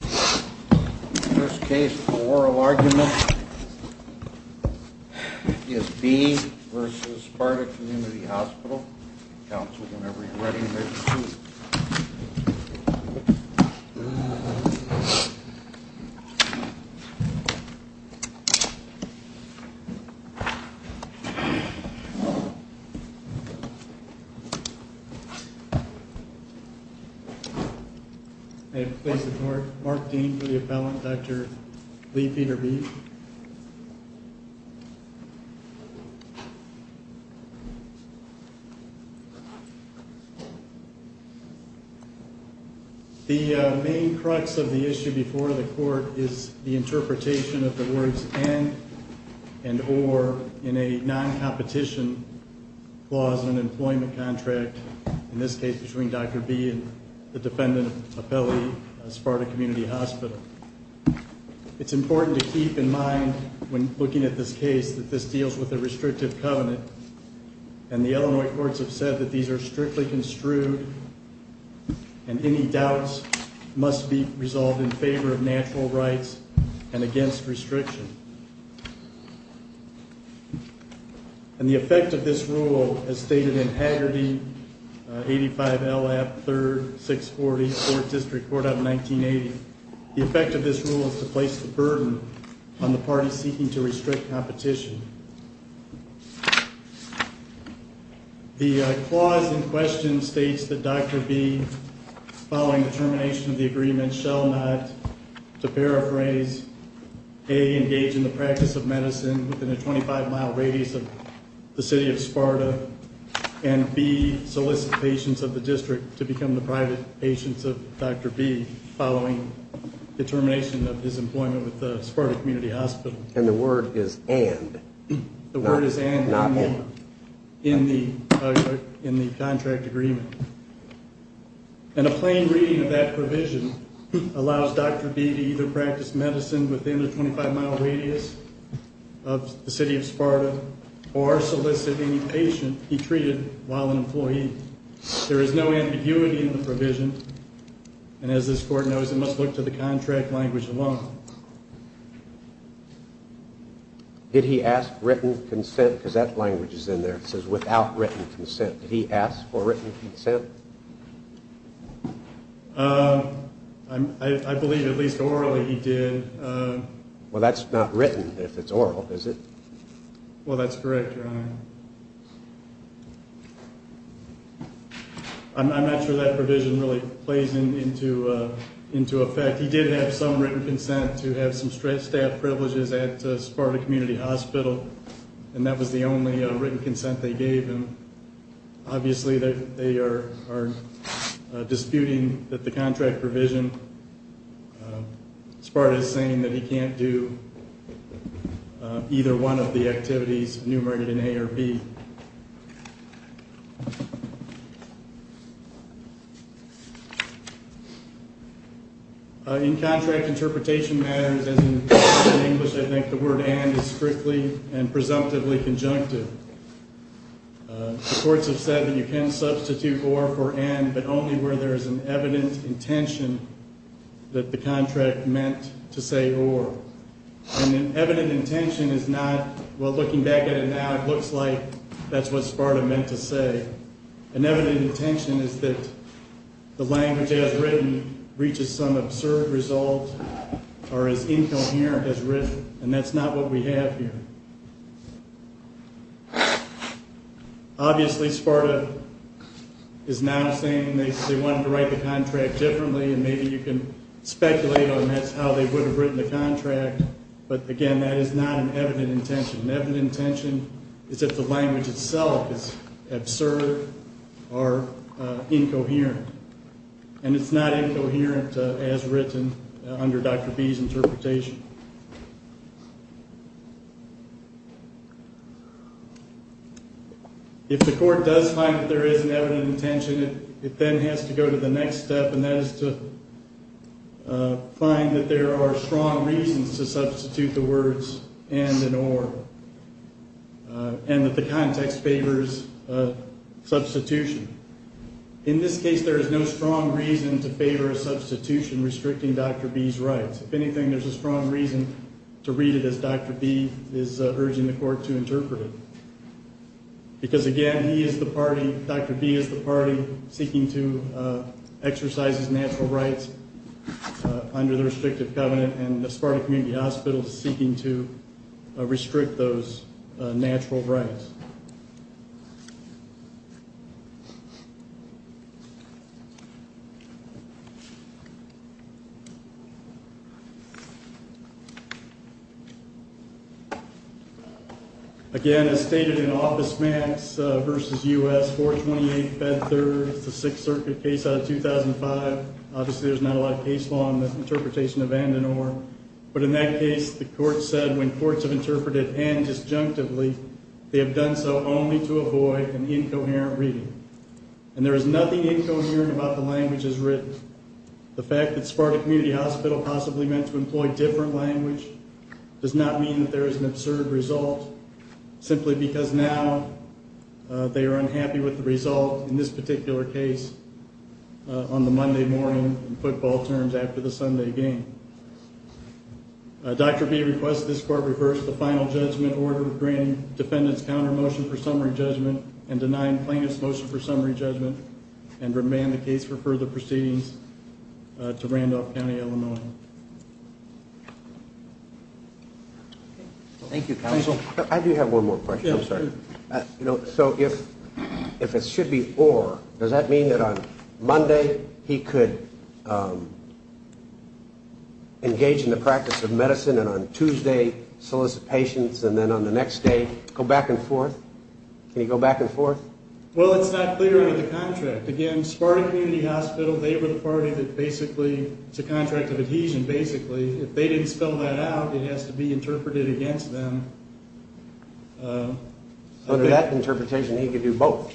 The first case for oral argument is B v. Sparta Community Hospital. Counsel, whenever you're ready, there's a seat. Mark Dean for the appellant, Dr. Lee Peter Beef. The main crux of the issue before the court is the interpretation of the words and and or in a non-competition clause in an employment contract, in this case between Dr. Bee and the defendant appellee of Sparta Community Hospital. It's important to keep in mind when looking at this case that this deals with a restrictive covenant and the Illinois courts have said that these are strictly construed and any doubts must be resolved in favor of natural rights and against restriction. And the effect of this rule, as stated in Haggerty 85 LF 3rd 640 4th District Court of 1980, the effect of this rule is to place the burden on the party seeking to restrict competition. The clause in question states that Dr. Bee, following the termination of the agreement, shall not, to paraphrase, engage in the practice of medicine within a 25 mile radius of the city of Sparta and B, solicit patients of the district to become the private patients of Dr. Bee following the termination of his employment with the Sparta Community Hospital. And the word is and. The word is and in the contract agreement. And a plain reading of that provision allows Dr. Bee to either practice medicine within a 25 mile radius of the city of Sparta or solicit any patient he treated while an employee. There is no ambiguity in the provision and as this court knows it must look to the contract language alone. Did he ask written consent, because that language is in there, it says without written consent. Did he ask for written consent? I believe at least orally he did. Well, that's not written if it's oral, is it? Well, that's correct, Your Honor. I'm not sure that provision really plays into effect. He did have some written consent to have some staff privileges at Sparta Community Hospital and that was the only written consent they gave him. Obviously, they are disputing that the contract provision, Sparta is saying that he can't do either one of the activities enumerated in A or B. In contract interpretation matters, in English I think the word and is strictly and presumptively conjunctive. The courts have said that you can substitute or for and, but only where there is an evident intention that the contract meant to say or. An evident intention is not, well looking back at it now, it looks like that's what Sparta meant to say. An evident intention is that the language as written reaches some absurd result or is incoherent as written and that's not what we have here. Obviously, Sparta is now saying they wanted to write the contract differently and maybe you can speculate on that's how they would have written the contract, but again that is not an evident intention. An evident intention is that the language itself is absurd or incoherent and it's not incoherent as written under Dr. B's interpretation. If the court does find that there is an evident intention, it then has to go to the next step and that is to find that there are strong reasons to substitute the words and and or and that the context favors substitution. In this case, there is no strong reason to favor a substitution restricting Dr. B's rights. If anything, there's a strong reason to read it as Dr. B is urging the court to interpret it because again he is the party, Dr. B is the party seeking to exercise his natural rights under the restrictive covenant and the Sparta Community Hospital is seeking to restrict those natural rights. Again, as stated in Office Max v. U.S., 428 Bed 3rd, it's a Sixth Circuit case out of 2005. Obviously, there's not a lot of case law in the interpretation of and and or, but in that case, the court said when courts have interpreted and disjunctively, they have done so only to avoid an incoherent reading and there is nothing incoherent about the languages written. The fact that Sparta Community Hospital possibly meant to employ different language does not mean that there is an absurd result simply because now they are unhappy with the result in this particular case on the Monday morning football terms after the Sunday game. Dr. B requests that this court reverse the final judgment order granting defendant's counter motion for summary judgment and denying plaintiff's motion for summary judgment and remand the case for further proceedings to Randolph County, Illinois. Thank you, counsel. I do have one more question, I'm sorry. So if it should be or, does that mean that on Monday he could engage in the practice of medicine and on Tuesday solicit patients and then on the next day go back and forth? Can he go back and forth? Well, it's not clear under the contract. Again, Sparta Community Hospital, they were the party that basically, it's a contract of adhesion basically. If they didn't spell that out, it has to be interpreted against them. Under that interpretation, he could do both.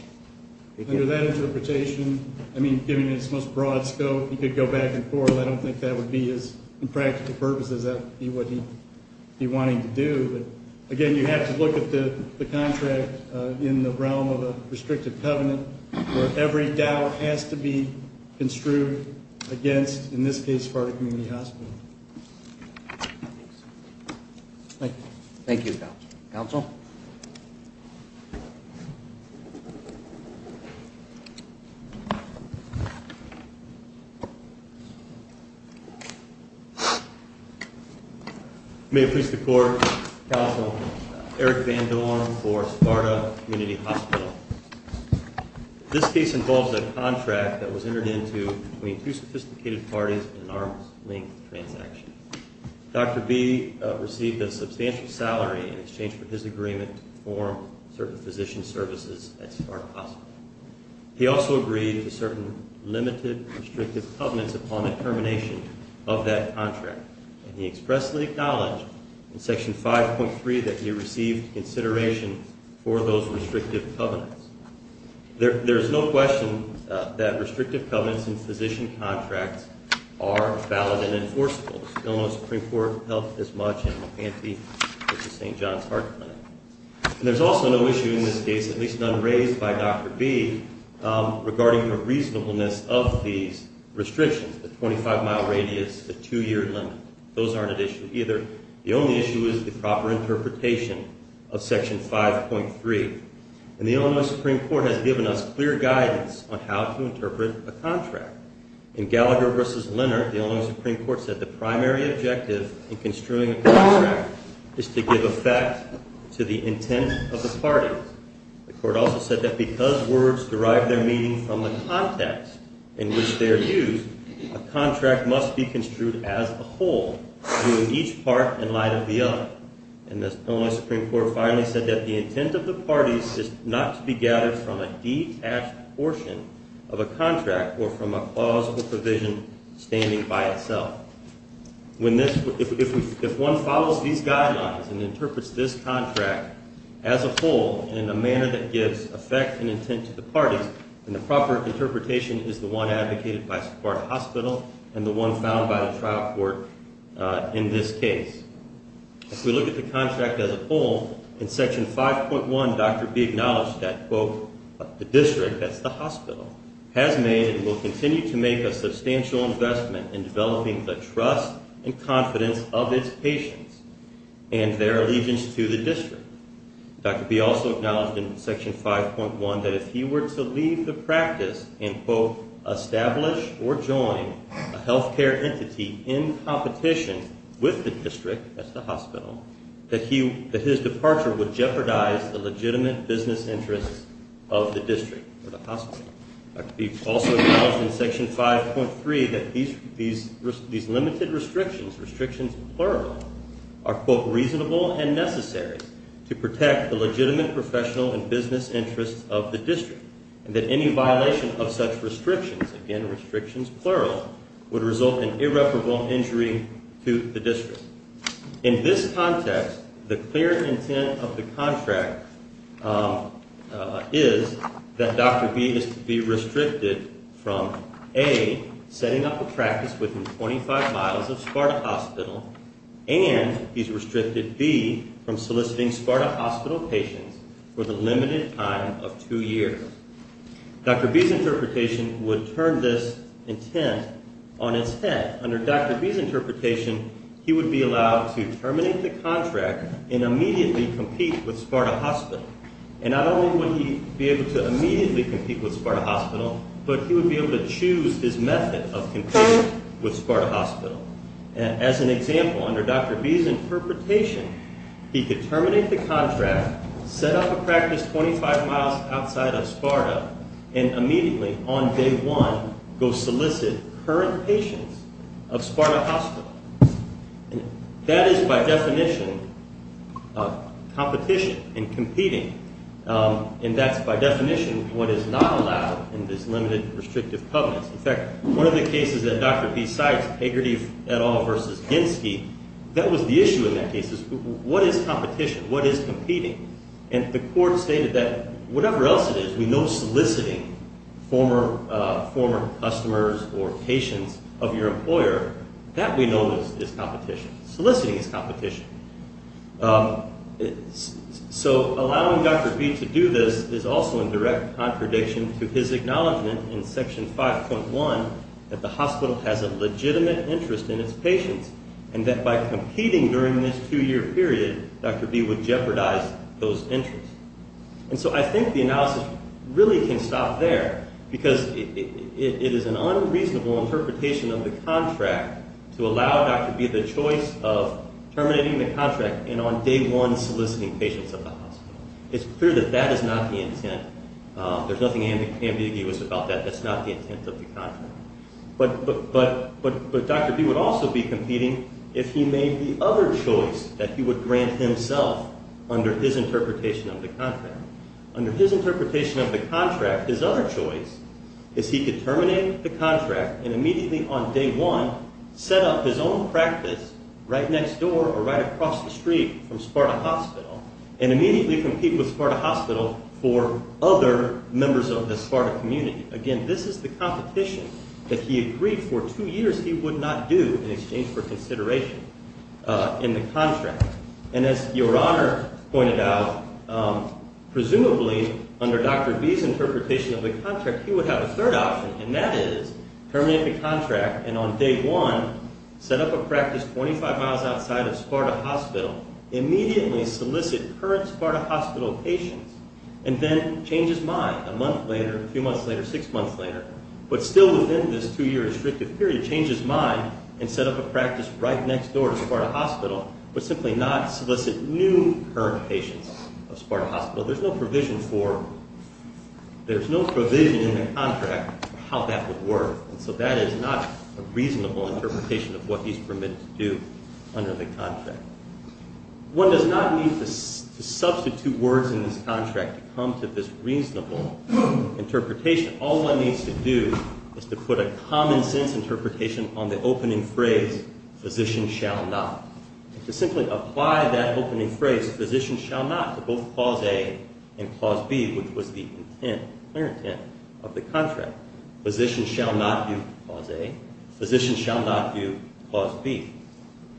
Under that interpretation, I mean, given his most broad scope, he could go back and forth. I don't think that would be his, in practical purposes, that would be what he'd be wanting to do. But again, you have to look at the contract in the realm of a restricted covenant where every doubt has to be construed against, in this case, Sparta Community Hospital. Thank you. Thank you, counsel. Counsel? May it please the Court, counsel, Eric Van Dorn for Sparta Community Hospital. This case involves a contract that was entered into between two sophisticated parties in an arm's-length transaction. Dr. B received a substantial salary in exchange for his agreement to perform certain physician services at Sparta Hospital. He also agreed to certain limited restrictive covenants upon the termination of that contract, and he expressly acknowledged in Section 5.3 that he received consideration for those restrictive covenants. There is no question that restrictive covenants in physician contracts are valid and enforceable. The Illinois Supreme Court helped as much in the pantheon as the St. John's Heart Clinic. And there's also no issue in this case, at least none raised by Dr. B, regarding the reasonableness of these restrictions, the 25-mile radius, the two-year limit. Those aren't an issue either. The only issue is the proper interpretation of Section 5.3. And the Illinois Supreme Court has given us clear guidance on how to interpret a contract. In Gallagher v. Leonard, the Illinois Supreme Court said the primary objective in construing a contract is to give effect to the intent of the parties. The Court also said that because words derive their meaning from the context in which they are used, a contract must be construed as a whole, viewing each part in light of the other. And the Illinois Supreme Court finally said that the intent of the parties is not to be gathered from a detached portion of a contract or from a plausible provision standing by itself. If one follows these guidelines and interprets this contract as a whole in a manner that gives effect and intent to the parties, then the proper interpretation is the one advocated by Sequoia Hospital and the one found by the trial court in this case. If we look at the contract as a whole, in Section 5.1, Dr. B acknowledged that, quote, the district, that's the hospital, has made and will continue to make a substantial investment in developing the trust and confidence of its patients and their allegiance to the district. Dr. B also acknowledged in Section 5.1 that if he were to leave the practice and, quote, establish or join a healthcare entity in competition with the district, that's the hospital, that his departure would jeopardize the legitimate business interests of the district or the hospital. Dr. B also acknowledged in Section 5.3 that these limited restrictions, restrictions plural, are, quote, reasonable and necessary to protect the legitimate professional and business interests of the district, and that any violation of such restrictions, again, restrictions plural, would result in irreparable injury to the district. In this context, the clear intent of the contract is that Dr. B is to be restricted from, A, setting up a practice within 25 miles of Sparta Hospital, and he's restricted, B, from soliciting Sparta Hospital patients for the limited time of two years. Dr. B's interpretation would turn this intent on its head. Under Dr. B's interpretation, he would be allowed to terminate the contract and immediately compete with Sparta Hospital. And not only would he be able to immediately compete with Sparta Hospital, but he would be able to choose his method of competing with Sparta Hospital. As an example, under Dr. B's interpretation, he could terminate the contract, set up a practice 25 miles outside of Sparta, and immediately, on day one, go solicit current patients of Sparta Hospital. That is, by definition, competition and competing. And that's, by definition, what is not allowed in this limited restrictive covenants. In fact, one of the cases that Dr. B cites, Hagerty et al. v. Ginsky, that was the issue in that case. What is competition? What is competing? And the court stated that whatever else it is, we know soliciting former customers or patients of your employer, that we know is competition. Soliciting is competition. So allowing Dr. B to do this is also in direct contradiction to his acknowledgement in Section 5.1 that the hospital has a legitimate interest in its patients, and that by competing during this two-year period, Dr. B would jeopardize those interests. And so I think the analysis really can stop there, because it is an unreasonable interpretation of the contract to allow Dr. B the choice of terminating the contract and on day one soliciting patients of the hospital. It's clear that that is not the intent. There's nothing ambiguous about that. That's not the intent of the contract. But Dr. B would also be competing if he made the other choice that he would grant himself under his interpretation of the contract. Under his interpretation of the contract, his other choice is he could terminate the contract and immediately on day one set up his own practice right next door or right across the street from Sparta Hospital and immediately compete with Sparta Hospital for other members of the Sparta community. Again, this is the competition that he agreed for two years he would not do in exchange for consideration in the contract. And as Your Honor pointed out, presumably under Dr. B's interpretation of the contract, he would have a third option, and that is terminate the contract and on day one set up a practice 25 miles outside of Sparta Hospital, immediately solicit current Sparta Hospital patients, and then change his mind a month later, a few months later, six months later, but still within this two-year restrictive period, change his mind and set up a practice right next door to Sparta Hospital, but simply not solicit new current patients of Sparta Hospital. There's no provision in the contract for how that would work, and so that is not a reasonable interpretation of what he's permitted to do under the contract. One does not need to substitute words in this contract to come to this reasonable interpretation. All one needs to do is to put a common sense interpretation on the opening phrase, physician shall not, to simply apply that opening phrase, physician shall not, to both Clause A and Clause B, which was the intent, clear intent of the contract. Physician shall not do Clause A. Physician shall not do Clause B.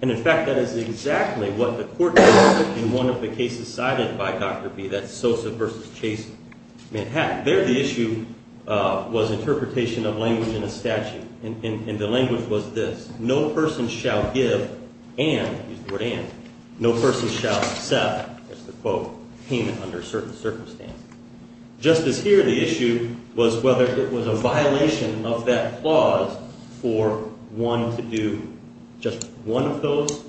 And, in fact, that is exactly what the court did in one of the cases cited by Dr. B, that's Sosa v. Chase, Manhattan. There the issue was interpretation of language in a statute, and the language was this, no person shall give and, use the word and, no person shall accept, that's the quote, payment under certain circumstances. Just as here, the issue was whether it was a violation of that clause for one to do just one of those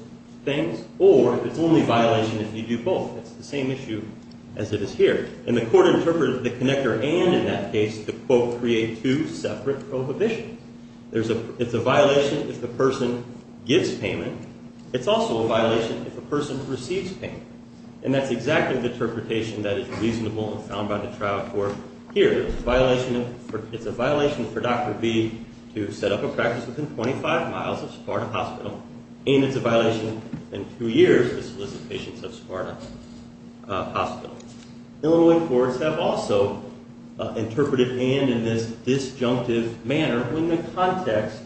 things, or it's only a violation if you do both. It's the same issue as it is here, and the court interpreted the connector and, in that case, the quote create two separate prohibitions. It's a violation if the person gives payment. It's also a violation if the person receives payment, and that's exactly the interpretation that is reasonable and found by the trial court here. It's a violation for Dr. B to set up a practice within 25 miles of Spartan Hospital, and it's a violation in two years to solicit patients at Spartan Hospital. Illinois courts have also interpreted and in this disjunctive manner when the context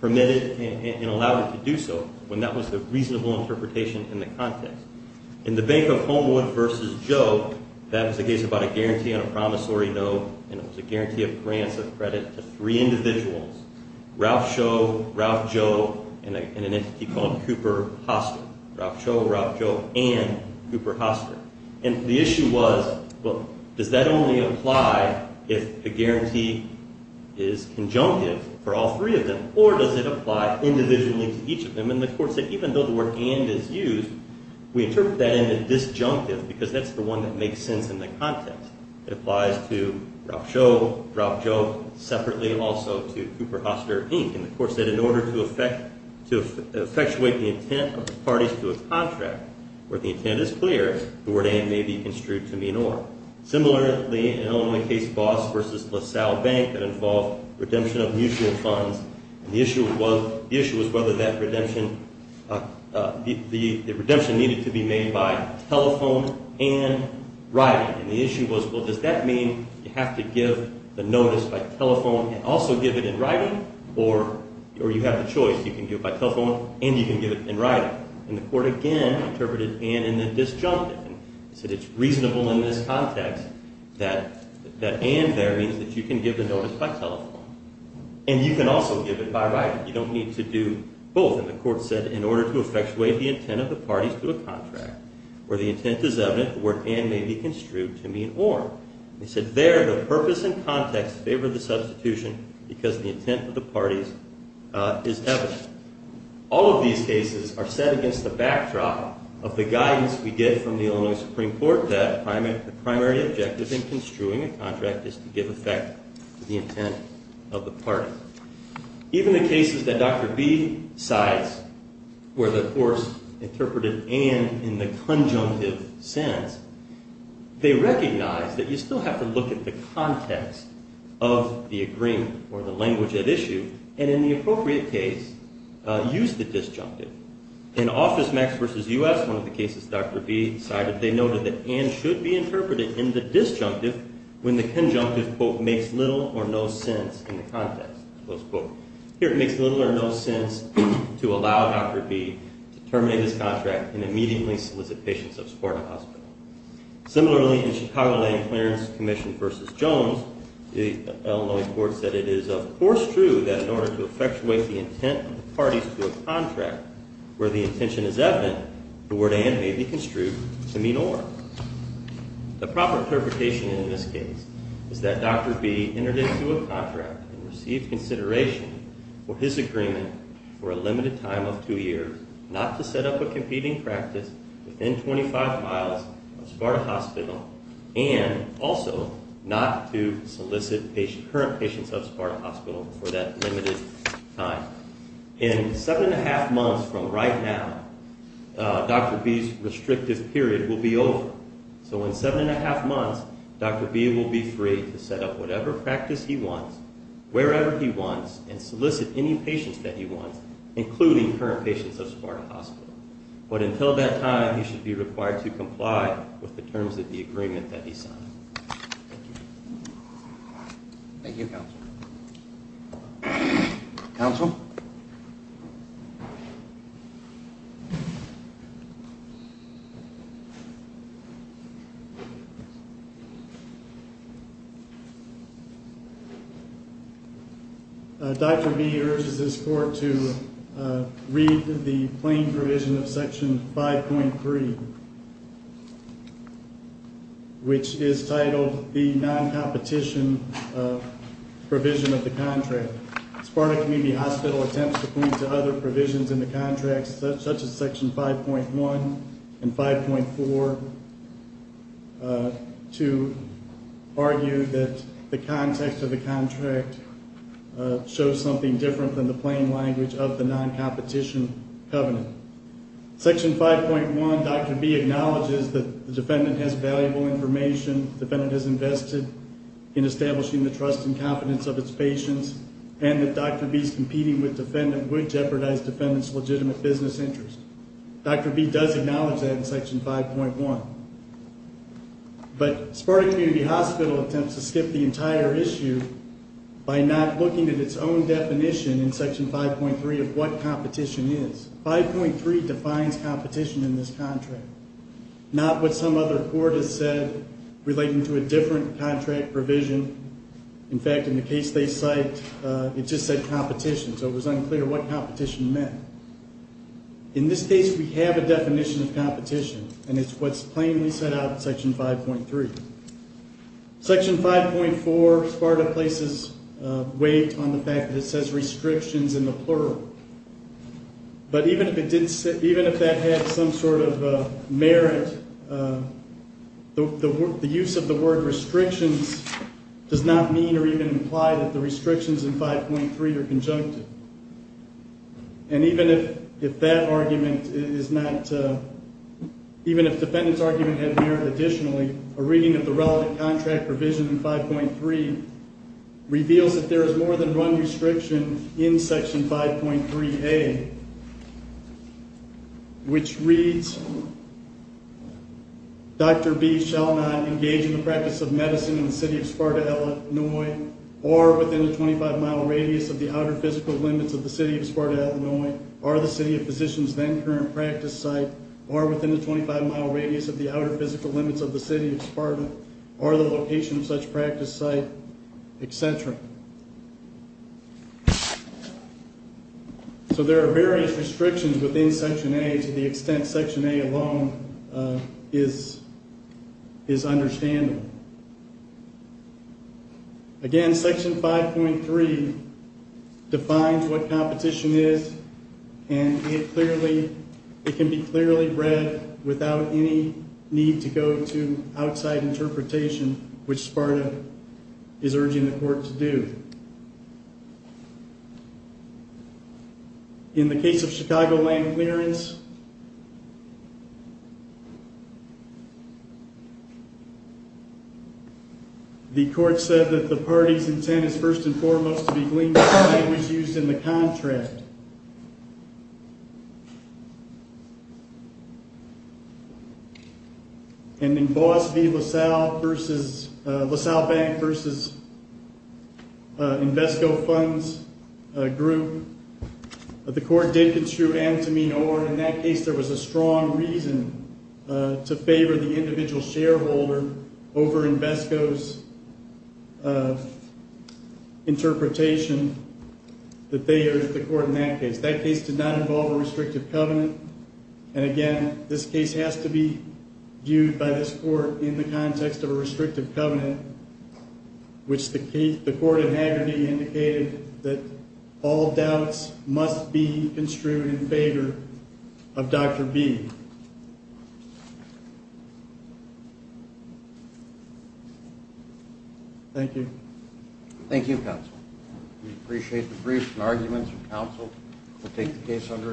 permitted and allowed it to do so, when that was the reasonable interpretation in the context. In the Bank of Homewood versus Joe, that was a case about a guarantee on a promissory note, and it was a guarantee of grants of credit to three individuals, Ralph Cho, Ralph Joe, and an entity called Cooper Hospital, Ralph Cho, Ralph Joe, and Cooper Hospital. And the issue was, well, does that only apply if a guarantee is conjunctive for all three of them, or does it apply individually to each of them? And the court said even though the word and is used, we interpret that in the disjunctive because that's the one that makes sense in the context. It applies to Ralph Cho, Ralph Joe, separately also to Cooper Hospital, Inc. And the court said in order to effectuate the intent of the parties to a contract where the intent is clear, the word and may be construed to mean or. Similarly, in Illinois case Boss versus LaSalle Bank that involved redemption of mutual funds, the issue was whether that redemption needed to be made by telephone and writing. And the issue was, well, does that mean you have to give the notice by telephone and also give it in writing, or you have the choice. You can do it by telephone and you can give it in writing. And the court again interpreted and in the disjunctive. And said it's reasonable in this context that and there means that you can give the notice by telephone. And you can also give it by writing. You don't need to do both. And the court said in order to effectuate the intent of the parties to a contract where the intent is evident, the word and may be construed to mean or. They said there the purpose and context favored the substitution because the intent of the parties is evident. All of these cases are set against the backdrop of the guidance we get from the Illinois Supreme Court that the primary objective in construing a contract is to give effect to the intent of the parties. Even the cases that Dr. B. cites where the courts interpreted and in the conjunctive sense, they recognize that you still have to look at the context of the agreement or the language at issue. And in the appropriate case, use the disjunctive. In Office Max v. U.S., one of the cases Dr. B. cited, they noted that and should be interpreted in the disjunctive when the conjunctive quote makes little or no sense in the context, close quote. Here it makes little or no sense to allow Dr. B. to terminate his contract and immediately solicit patients of support in the hospital. Similarly, in Chicago Lane Clearance Commission v. Jones, the Illinois court said it is of course true that in order to effectuate the intent of the parties to a contract where the intention is evident, the word and may be construed to mean or. The proper interpretation in this case is that Dr. B. entered into a contract and received consideration for his agreement for a limited time of two years not to set up a competing practice within 25 miles of Sparta Hospital and also not to solicit current patients of Sparta Hospital for that limited time. In seven and a half months from right now, Dr. B.'s restrictive period will be over. So in seven and a half months, Dr. B. will be free to set up whatever practice he wants, wherever he wants, and solicit any patients that he wants, including current patients of Sparta Hospital. But until that time, he should be required to comply with the terms of the agreement that he signed. Thank you. Thank you, Counsel. Counsel? Thank you. Dr. B. urges this court to read the plain provision of Section 5.3, which is titled the non-competition provision of the contract. Sparta Community Hospital attempts to point to other provisions in the contract, such as Section 5.1 and 5.4, to argue that the context of the contract shows something different than the plain language of the non-competition covenant. Section 5.1, Dr. B. acknowledges that the defendant has valuable information. The defendant has invested in establishing the trust and confidence of its patients, and that Dr. B.'s competing with defendant would jeopardize defendant's legitimate business interest. Dr. B. does acknowledge that in Section 5.1. But Sparta Community Hospital attempts to skip the entire issue by not looking at its own definition in Section 5.3 of what competition is. Section 5.3 defines competition in this contract, not what some other court has said relating to a different contract provision. In fact, in the case they cite, it just said competition, so it was unclear what competition meant. In this case, we have a definition of competition, and it's what's plainly set out in Section 5.3. Section 5.4, Sparta places weight on the fact that it says restrictions in the plural. But even if that had some sort of merit, the use of the word restrictions does not mean or even imply that the restrictions in 5.3 are conjunctive. And even if that argument is not, even if defendant's argument had merit additionally, a reading of the relevant contract provision in 5.3 reveals that there is more than one restriction in Section 5.3a, which reads, Dr. B. shall not engage in the practice of medicine in the city of Sparta, Illinois, or within the 25-mile radius of the outer physical limits of the city of Sparta, Illinois, or the city of physician's then current practice site, or within the 25-mile radius of the outer physical limits of the city of Sparta, or the location of such practice site, etc. So there are various restrictions within Section A to the extent Section A alone is understandable. Again, Section 5.3 defines what competition is, and it can be clearly read without any need to go to outside interpretation, which Sparta is urging the court to do. In the case of Chicago land clearance, the court said that the party's intent is first and foremost to be gleaned from the language used in the contract. And in Boas v. LaSalle Bank v. Invesco Funds Group, the court did construe antiminor. In that case, there was a strong reason to favor the individual shareholder over Invesco's interpretation. That case did not involve a restrictive covenant. And again, this case has to be viewed by this court in the context of a restrictive covenant, which the court in Hagerty indicated that all doubts must be construed in favor of Dr. B. Thank you. Thank you, counsel. We appreciate the briefs and arguments of counsel. We'll take the case under advisement.